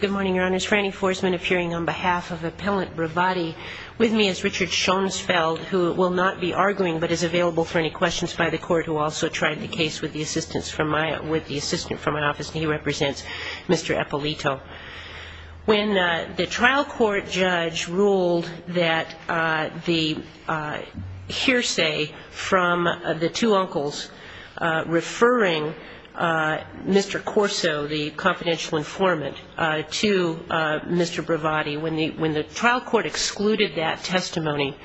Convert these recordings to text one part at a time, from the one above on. Good morning, Your Honors. Frannie Forsman appearing on behalf of Appellant Bravatti. With me is Richard Schoensfeld, who will not be arguing, but is available for any questions by the Court, who also tried the case with the assistance from my, with the assistant from my office, and he represents Mr. Eppolito. When the trial court judge ruled that the hearsay from the two uncles referring Mr. Corso, the confidential informant, to Mr. Bravatti, when the trial court excluded that testimony,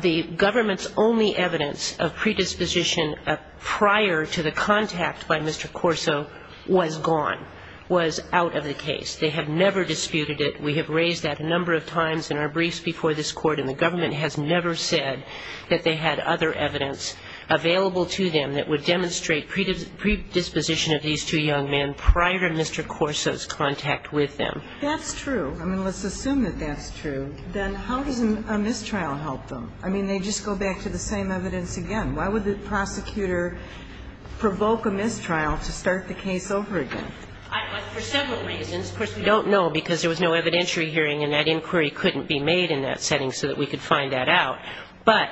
the government's only evidence of predisposition prior to the contact by Mr. Corso was gone, was out of the case. They have never disputed it. We have raised that a number of times in our briefs before this Court, and the government has never said that they had other evidence available to them that would demonstrate predisposition of these two young men prior to Mr. Corso's contact with them. That's true. I mean, let's assume that that's true. Then how does a mistrial help them? I mean, they just go back to the same evidence again. Why would the prosecutor provoke a mistrial to start the case over again? For several reasons. Of course, we don't know because there was no evidentiary hearing, and that inquiry couldn't be made in that setting so that we could find that out. But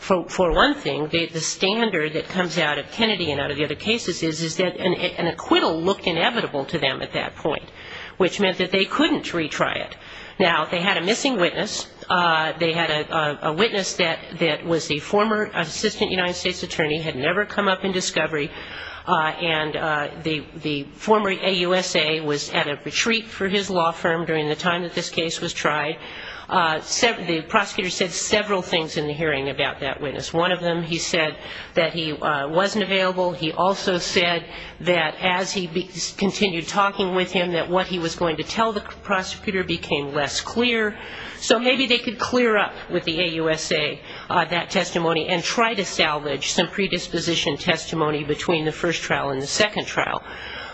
for one thing, the standard that comes out of Kennedy and out of the other cases is that an acquittal looked inevitable to them at that point, which meant that they couldn't retry it. Now, they had a missing witness. They had a witness that was the former assistant United States attorney, had never come up in discovery, and the former AUSA was at a retreat for his law firm during the time that this case was tried. The prosecutor said several things in the hearing about that witness. One of them, he said that he wasn't available. He also said that as he continued talking with him, that what he was going to tell the prosecutor became less clear. So maybe they could clear up with the AUSA that testimony and try to salvage some predisposition testimony between the first trial and the second trial.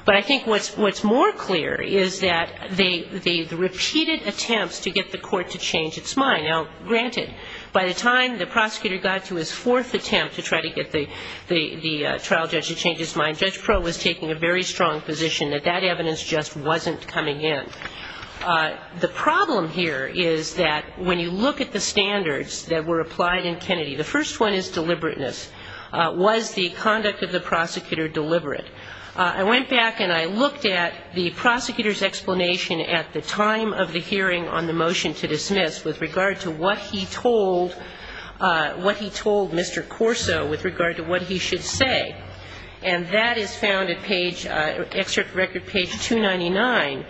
But I think what's more clear is that the repeated attempts to get the court to change its mind. Now, granted, by the time the prosecutor got to his fourth attempt to try to get the trial judge to change his mind, Judge Proh was taking a very strong position that that evidence just wasn't coming in. The problem here is that when you look at the standards that were applied in Kennedy, the first one is deliberateness. Was the conduct of the prosecutor deliberate? I went back and I looked at the prosecutor's explanation at the time of the hearing on the motion to dismiss with regard to what he told Mr. Corso with regard to what he should say. And that is found at page, excerpt from record page 299.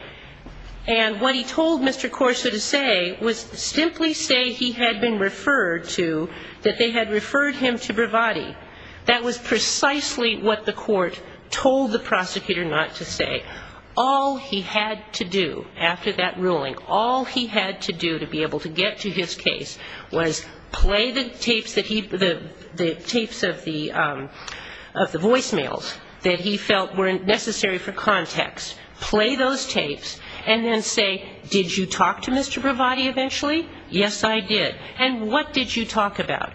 And what he told Mr. Corso to say was simply say he had been referred to, that they had referred him to Bravatti. That was precisely what the court told the prosecutor not to say. All he had to do after that ruling, all he had to do to be able to get to his case was play the tapes of the voice mails that he felt were necessary for context, play those tapes, and then say, did you talk to Mr. Bravatti eventually? Yes, I did. And what did you talk about?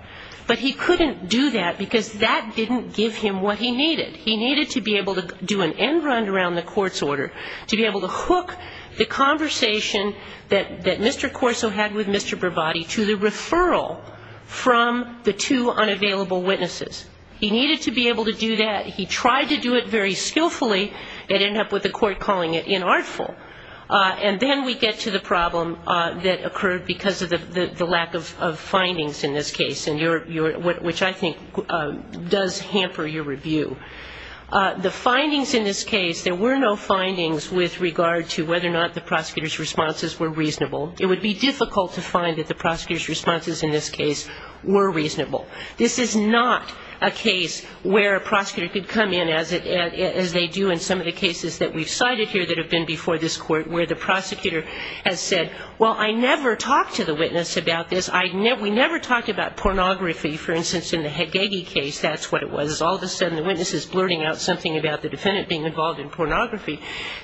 But he couldn't do that because that didn't give him what he needed. He needed to be able to do an end run around the court's order, to be able to hook the conversation that Mr. Corso had with Mr. Bravatti to the referral from the two unavailable witnesses. He needed to be able to do that. He tried to do it very skillfully. It ended up with the court calling it inartful. And then we get to the problem that occurred because of the lack of findings in this case, which I think does hamper your review. The findings in this case, there were no findings with regard to whether or not the prosecutor's responses were reasonable. It would be difficult to find that the prosecutor's responses in this case were reasonable. This is not a case where a prosecutor could come in, as they do in some of the cases that we've cited here that have been before this court, where the prosecutor has said, well, I never talked to the witness about this. We never talked about pornography, for instance, in the Hagegi case. That's what it was. All of a sudden, the witness is blurting out something about the defendant being involved in pornography. The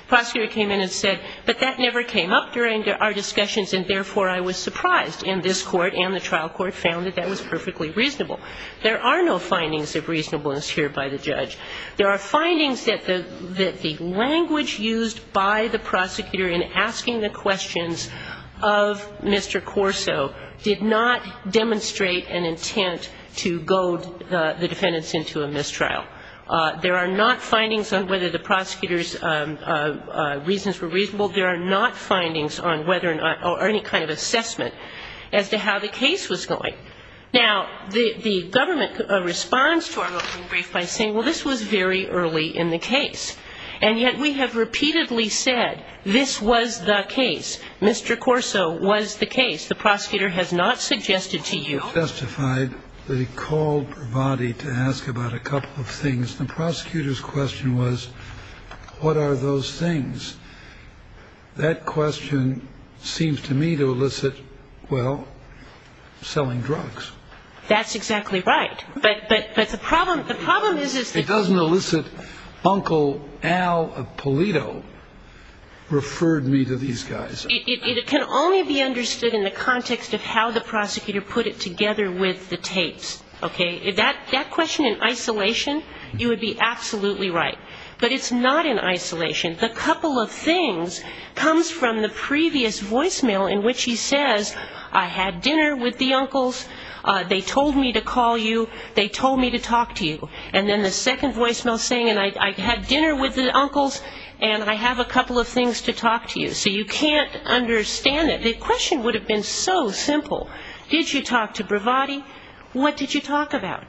prosecutor came in and said, but that never came up during our discussions, and therefore I was surprised. And this court and the trial court found that that was perfectly reasonable. There are no findings of reasonableness here by the judge. There are findings that the language used by the prosecutor in asking the questions of Mr. Corso did not demonstrate an intent to goad the defendants into a mistrial. There are not findings on whether the prosecutor's reasons were reasonable. There are not findings on whether or any kind of assessment as to how the case was going. Now, the government responds to our opening brief by saying, well, this was very early in the case. And yet we have repeatedly said this was the case. Mr. Corso was the case. The prosecutor has not suggested to you. The prosecutor's question was, what are those things? That question seems to me to elicit, well, selling drugs. That's exactly right. But the problem is it doesn't elicit Uncle Al Polito referred me to these guys. It can only be understood in the context of how the prosecutor put it together with the tapes, okay? That question in isolation, you would be absolutely right. But it's not in isolation. The couple of things comes from the previous voicemail in which he says, I had dinner with the uncles. They told me to call you. They told me to talk to you. And then the second voicemail saying, and I had dinner with the uncles, and I have a couple of things to talk to you. So you can't understand it. The question would have been so simple. Did you talk to Bravatti? What did you talk about?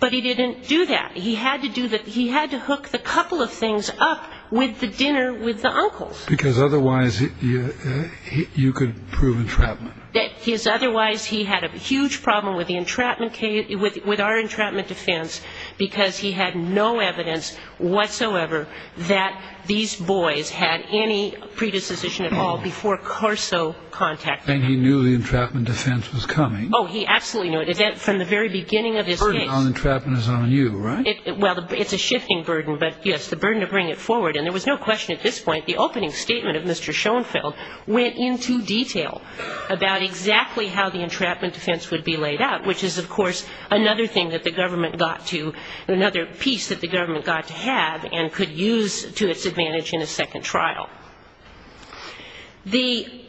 But he didn't do that. He had to hook the couple of things up with the dinner with the uncles. Because otherwise you could prove entrapment. Otherwise he had a huge problem with the entrapment case, with our entrapment defense, because he had no evidence whatsoever that these boys had any predisposition at all before Carso contacted him. And he knew the entrapment defense was coming. Oh, he absolutely knew it. From the very beginning of this case. The burden on the entrapment is on you, right? Well, it's a shifting burden. But, yes, the burden to bring it forward. And there was no question at this point, the opening statement of Mr. Schoenfeld went into detail about exactly how the entrapment defense would be laid out, which is, of course, another thing that the government got to, another piece that the government got to have and could use to its advantage in a second trial. The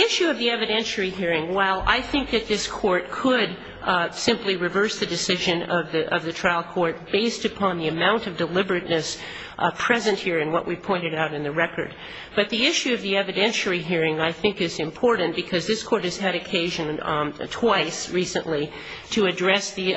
issue of the evidentiary hearing, while I think that this Court could simply reverse the decision of the trial court based upon the amount of deliberateness present here in what we pointed out in the record. But the issue of the evidentiary hearing, I think, is important because this Court has had occasion twice recently to address the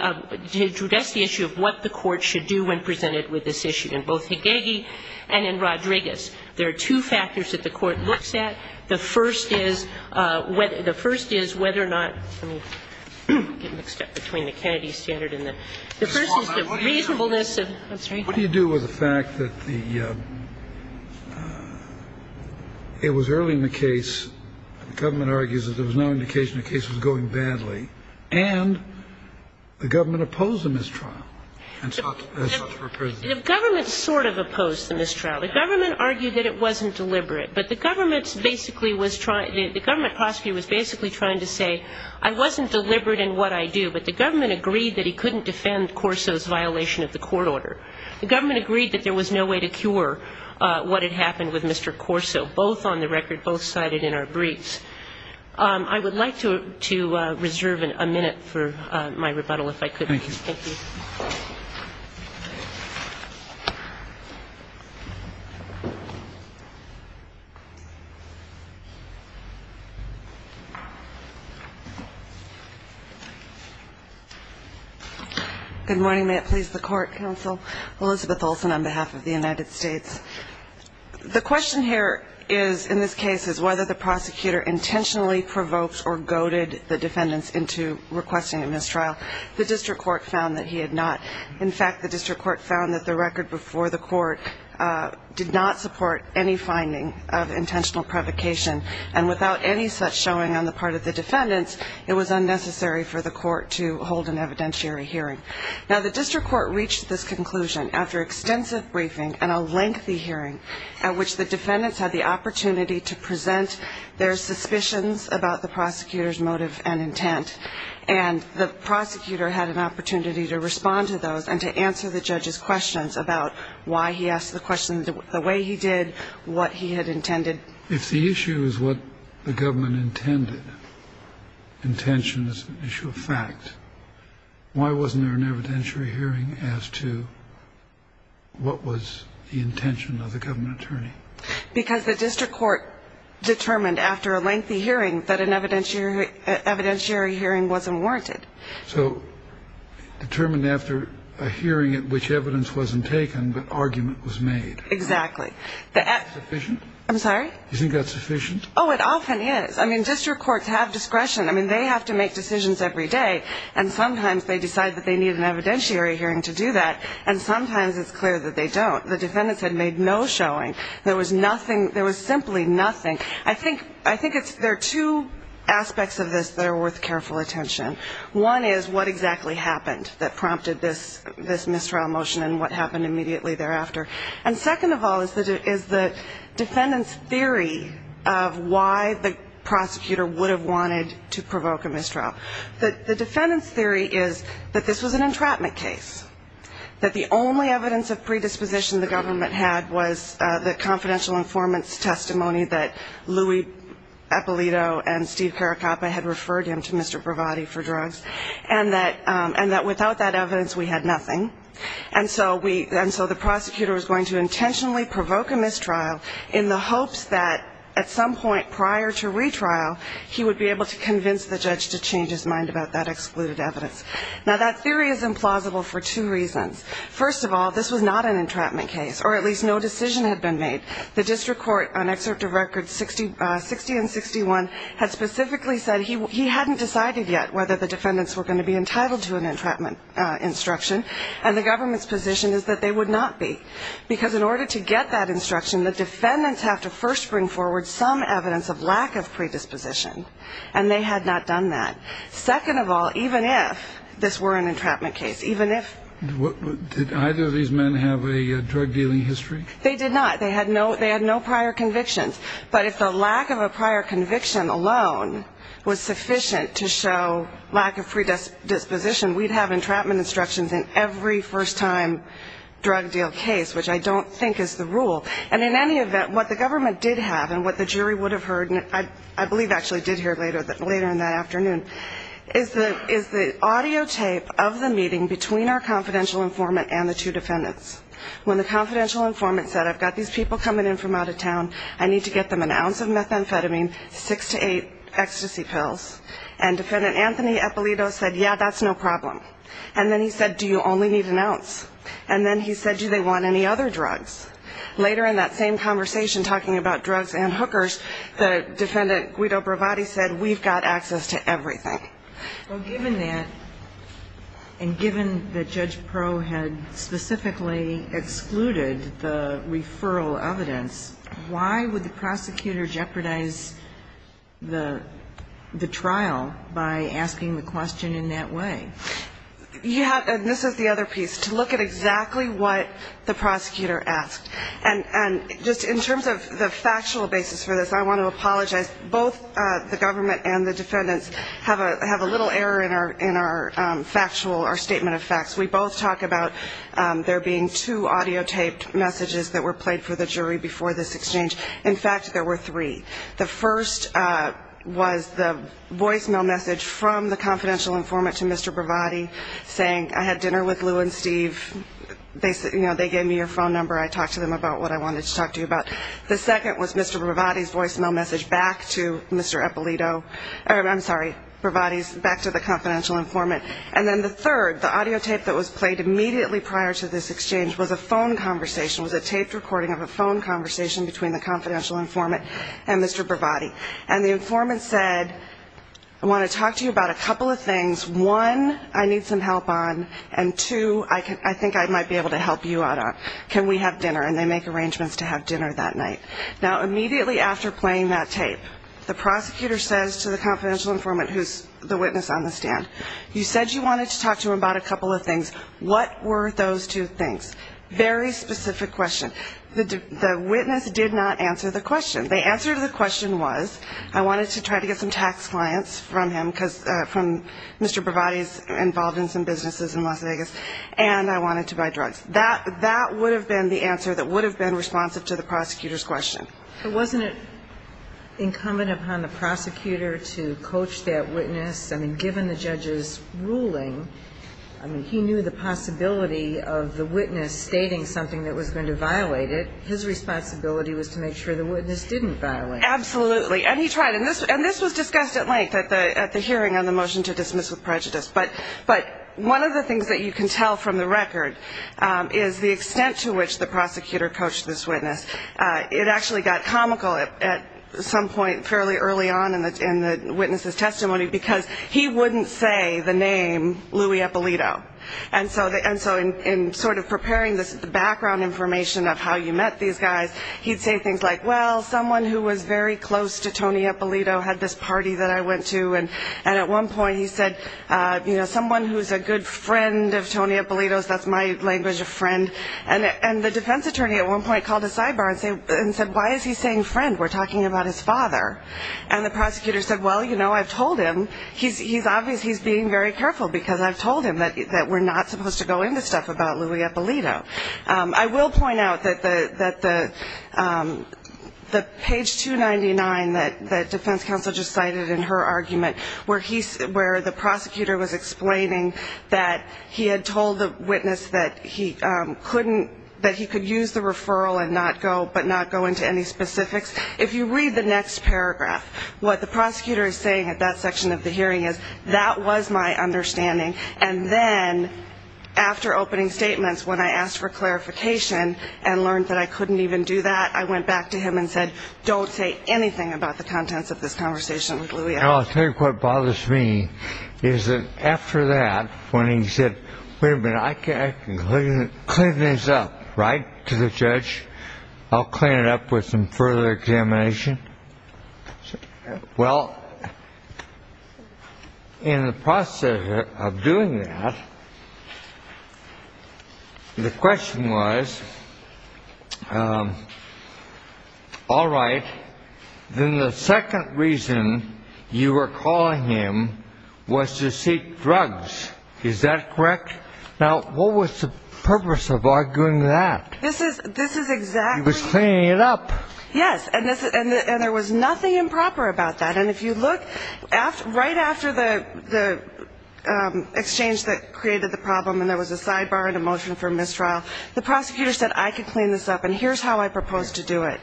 issue of what the Court should do when presented with this issue in both Hagegi and in Rodriguez. There are two factors that the Court looks at. The first is whether or not, let me get mixed up between the Kennedy standard and the Kennedy standard. The first is the reasonableness of what's right. What do you do with the fact that the ‑‑ it was early in the case, the government argues that there was no indication the case was going badly, and the government opposed the mistrial. The government sort of opposed the mistrial. The government argued that it wasn't deliberate. But the government basically was trying ‑‑ the government prosecutor was basically trying to say I wasn't deliberate in what I do. But the government agreed that he couldn't defend Corso's violation of the court order. The government agreed that there was no way to cure what had happened with Mr. Corso, both on the record, both cited in our briefs. I would like to reserve a minute for my rebuttal, if I could. Thank you. Good morning. May it please the Court, Counsel. Elizabeth Olsen on behalf of the United States. The question here is, in this case, is whether the prosecutor intentionally provoked or goaded the defendants into requesting a mistrial. The district court found that he had not. In fact, the district court found that the record before the court did not support any finding of intentional provocation, and without any such showing on the part of the defendants, it was unnecessary for the court to hold an evidentiary hearing. Now, the district court reached this conclusion after extensive briefing and a lengthy hearing at which the defendants had the opportunity to present their suspicions about the prosecutor's motive and intent, and the prosecutor had an opportunity to respond to those and to answer the judge's questions about why he asked the questions the way he did, what he had intended. If the issue is what the government intended, intention is an issue of fact, why wasn't there an evidentiary hearing as to what was the intention of the government attorney? Because the district court determined after a lengthy hearing that an evidentiary hearing wasn't warranted. So determined after a hearing at which evidence wasn't taken but argument was made. Exactly. Is that sufficient? I'm sorry? Do you think that's sufficient? Oh, it often is. I mean, district courts have discretion. I mean, they have to make decisions every day, and sometimes they decide that they need an evidentiary hearing to do that, and sometimes it's clear that they don't. The defendants had made no showing. There was simply nothing. I think there are two aspects of this that are worth careful attention. One is what exactly happened that prompted this mistrial motion and what happened immediately thereafter. And second of all is the defendant's theory of why the prosecutor would have wanted to provoke a mistrial. The defendant's theory is that this was an entrapment case, that the only evidence of predisposition the government had was the confidential informant's testimony that Louis Eppolito and Steve Caracappa had referred him to Mr. Bravatti for drugs, and that without that evidence we had nothing. And so the prosecutor was going to intentionally provoke a mistrial in the hopes that at some point prior to retrial, he would be able to convince the judge to change his mind about that excluded evidence. Now, that theory is implausible for two reasons. First of all, this was not an entrapment case, or at least no decision had been made. The district court on Excerpt of Records 60 and 61 had specifically said he hadn't decided yet whether the defendants were going to be entitled to an entrapment instruction, and the government's position is that they would not be. Because in order to get that instruction, the defendants have to first bring forward some evidence of lack of predisposition, and they had not done that. Second of all, even if this were an entrapment case, even if ---- Did either of these men have a drug-dealing history? They did not. They had no prior convictions. But if the lack of a prior conviction alone was sufficient to show lack of predisposition, we'd have entrapment instructions in every first-time drug-deal case, which I don't think is the rule. And in any event, what the government did have and what the jury would have heard, I believe actually did hear later in that afternoon, is the audio tape of the meeting between our confidential informant and the two defendants. When the confidential informant said, I've got these people coming in from out of town, I need to get them an ounce of methamphetamine, six to eight ecstasy pills, and defendant Anthony Eppolito said, yeah, that's no problem. And then he said, do you only need an ounce? And then he said, do they want any other drugs? Later in that same conversation talking about drugs and hookers, the defendant Guido Bravatti said, we've got access to everything. Well, given that, and given that Judge Pro had specifically excluded the referral evidence, why would the prosecutor jeopardize the trial by asking the question in that way? Yeah, and this is the other piece, to look at exactly what the prosecutor asked. And just in terms of the factual basis for this, I want to apologize. Both the government and the defendants have a little error in our factual, our statement of facts. We both talk about there being two audio taped messages that were played for the jury before this exchange. In fact, there were three. The first was the voicemail message from the confidential informant to Mr. Bravatti, saying I had dinner with Lou and Steve, they gave me your phone number, I talked to them about what I wanted to talk to you about. The second was Mr. Bravatti's voicemail message back to Mr. Eppolito. I'm sorry, Bravatti's, back to the confidential informant. And then the third, the audio tape that was played immediately prior to this exchange was a phone conversation, was a taped recording of a phone conversation between the confidential informant and Mr. Bravatti, and the informant said, I want to talk to you about a couple of things. One, I need some help on, and two, I think I might be able to help you out on. Can we have dinner? And they make arrangements to have dinner that night. Now, immediately after playing that tape, the prosecutor says to the confidential informant, who's the witness on the stand, you said you wanted to talk to him about a couple of things. What were those two things? Very specific question. The witness did not answer the question. The answer to the question was, I wanted to try to get some tax clients from him, from Mr. Bravatti's involvement in some businesses in Las Vegas, and I wanted to buy drugs. That would have been the answer that would have been responsive to the prosecutor's question. But wasn't it incumbent upon the prosecutor to coach that witness? He knew the possibility of the witness stating something that was going to violate it. His responsibility was to make sure the witness didn't violate it. Absolutely. And he tried. And this was discussed at length at the hearing on the motion to dismiss with prejudice. But one of the things that you can tell from the record is the extent to which the prosecutor coached this witness. It actually got comical at some point fairly early on in the witness's testimony because he wouldn't say the name Louis Eppolito. And so in sort of preparing the background information of how you met these guys, he'd say things like, well, someone who was very close to Tony Eppolito had this party that I went to. And at one point he said, you know, someone who's a good friend of Tony Eppolito's. That's my language of friend. And the defense attorney at one point called a sidebar and said, why is he saying friend? We're talking about his father. And the prosecutor said, well, you know, I've told him. He's obvious he's being very careful because I've told him that we're not supposed to go into stuff about Louis Eppolito. I will point out that the page 299 that defense counsel just cited in her argument, where the prosecutor was explaining that he had told the witness that he couldn't, that he could use the referral but not go into any specifics. If you read the next paragraph, what the prosecutor is saying at that section of the hearing is that was my understanding. And then after opening statements, when I asked for clarification and learned that I couldn't even do that, I went back to him and said, don't say anything about the contents of this conversation with Louis Eppolito. I think what bothers me is that after that, when he said, wait a minute, I can clean this up, right, to the judge. I'll clean it up with some further examination. Well, in the process of doing that, the question was, all right. Then the second reason you were calling him was to seek drugs. Is that correct? Now, what was the purpose of arguing that? This is exactly. He was cleaning it up. Yes. And there was nothing improper about that. And if you look, right after the exchange that created the problem and there was a sidebar and a motion for mistrial, the prosecutor said, I can clean this up, and here's how I propose to do it.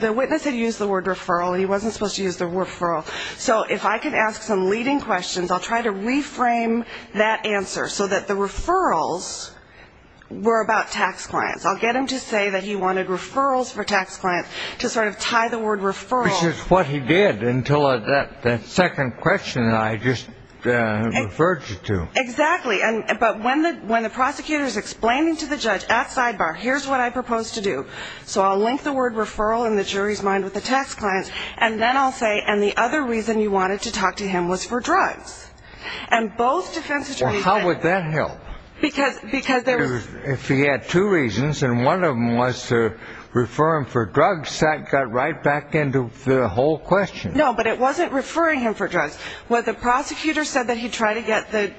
The witness had used the word referral. He wasn't supposed to use the word referral. So if I can ask some leading questions, I'll try to reframe that answer so that the referrals were about tax clients. I'll get him to say that he wanted referrals for tax clients to sort of tie the word referral. Which is what he did until that second question I just referred you to. Exactly. But when the prosecutor is explaining to the judge at sidebar, here's what I propose to do. So I'll link the word referral in the jury's mind with the tax clients, and then I'll say, and the other reason you wanted to talk to him was for drugs. And both defense attorneys said that. Well, how would that help? Because there was. If he had two reasons, and one of them was to refer him for drugs, that got right back into the whole question. No, but it wasn't referring him for drugs. What the prosecutor said that he tried to get the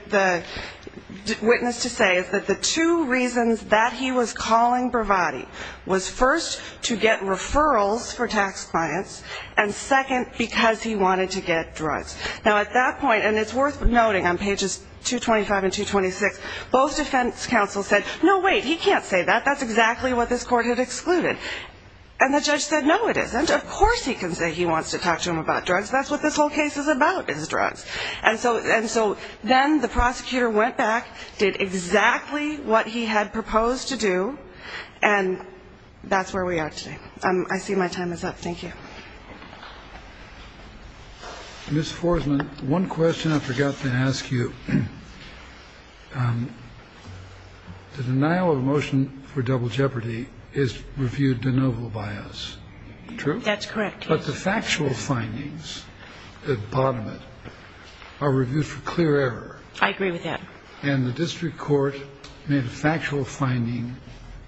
witness to say is that the two reasons that he was calling Bravatti was first to get referrals for tax clients, and second, because he wanted to get drugs. Now, at that point, and it's worth noting on pages 225 and 226, both defense counsels said, no, wait, he can't say that. That's exactly what this court had excluded. And the judge said, no, it isn't. Of course he can say he wants to talk to him about drugs. That's what this whole case is about is drugs. And so then the prosecutor went back, did exactly what he had proposed to do, and that's where we are today. I see my time is up. Thank you. Ms. Forsman, one question I forgot to ask you. The denial of a motion for double jeopardy is reviewed de novo by us. True? That's correct. But the factual findings at the bottom of it are reviewed for clear error. I agree with that. And the district court made a factual finding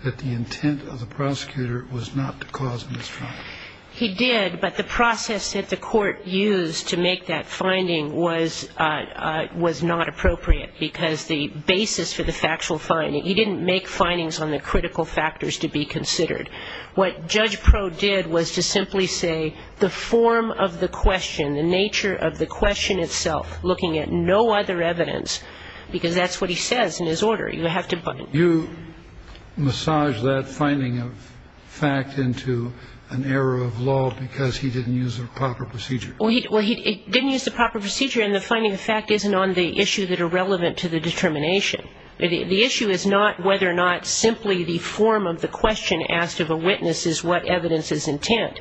that the intent of the prosecutor was not to cause a misdemeanor. He did, but the process that the court used to make that finding was not appropriate because the basis for the factual finding, he didn't make findings on the critical factors to be considered. What Judge Proh did was to simply say the form of the question, the nature of the question itself, looking at no other evidence, because that's what he says in his order. You have to buy it. You massaged that finding of fact into an error of law because he didn't use the proper procedure. Well, he didn't use the proper procedure, and the finding of fact isn't on the issue that are relevant to the determination. The issue is not whether or not simply the form of the question asked of a witness is what evidence is intent.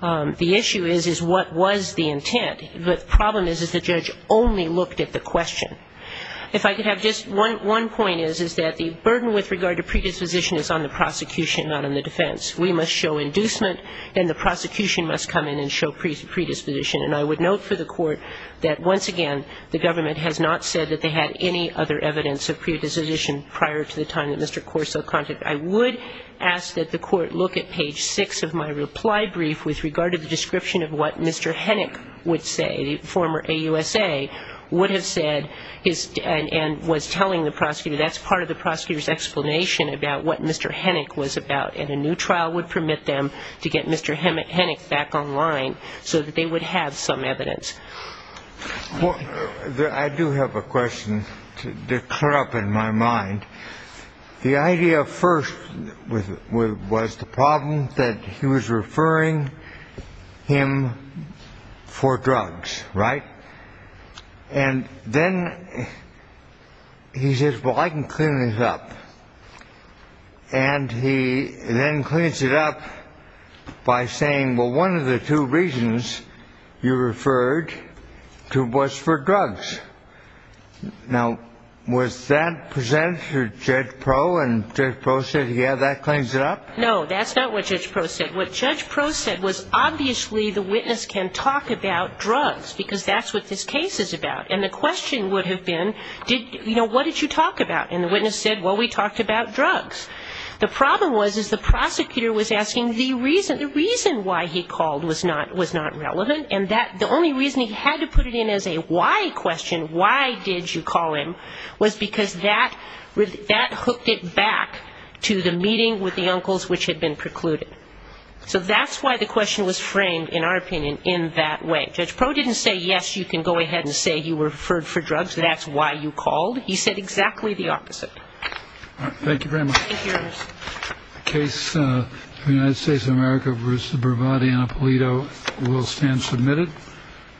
The issue is, is what was the intent. The problem is, is the judge only looked at the question. If I could have just one point is, is that the burden with regard to predisposition is on the prosecution, not on the defense. We must show inducement, and the prosecution must come in and show predisposition. And I would note for the court that, once again, the government has not said that they had any other evidence of predisposition prior to the time that Mr. Corso contacted. I would ask that the court look at page 6 of my reply brief with regard to the description of what Mr. Hennick would say, the former AUSA, would have said and was telling the prosecutor. That's part of the prosecutor's explanation about what Mr. Hennick was about, and a new trial would permit them to get Mr. Hennick back online so that they would have some evidence. Well, I do have a question to clear up in my mind. The idea first was the problem that he was referring him for drugs, right? And then he says, well, I can clean this up. And he then cleans it up by saying, well, one of the two reasons you referred to was for drugs. Now, was that presented to Judge Proe, and Judge Proe said, yeah, that cleans it up? No, that's not what Judge Proe said. What Judge Proe said was, obviously, the witness can talk about drugs because that's what this case is about. And the question would have been, you know, what did you talk about? And the witness said, well, we talked about drugs. The problem was is the prosecutor was asking the reason why he called was not relevant, and the only reason he had to put it in as a why question, why did you call him, was because that hooked it back to the meeting with the uncles which had been precluded. So that's why the question was framed, in our opinion, in that way. Judge Proe didn't say, yes, you can go ahead and say you referred for drugs, that's why you called. He said exactly the opposite. All right. Thank you very much. Thank you, Ernest. The case of the United States of America versus the Bravado Annapolito will stand submitted.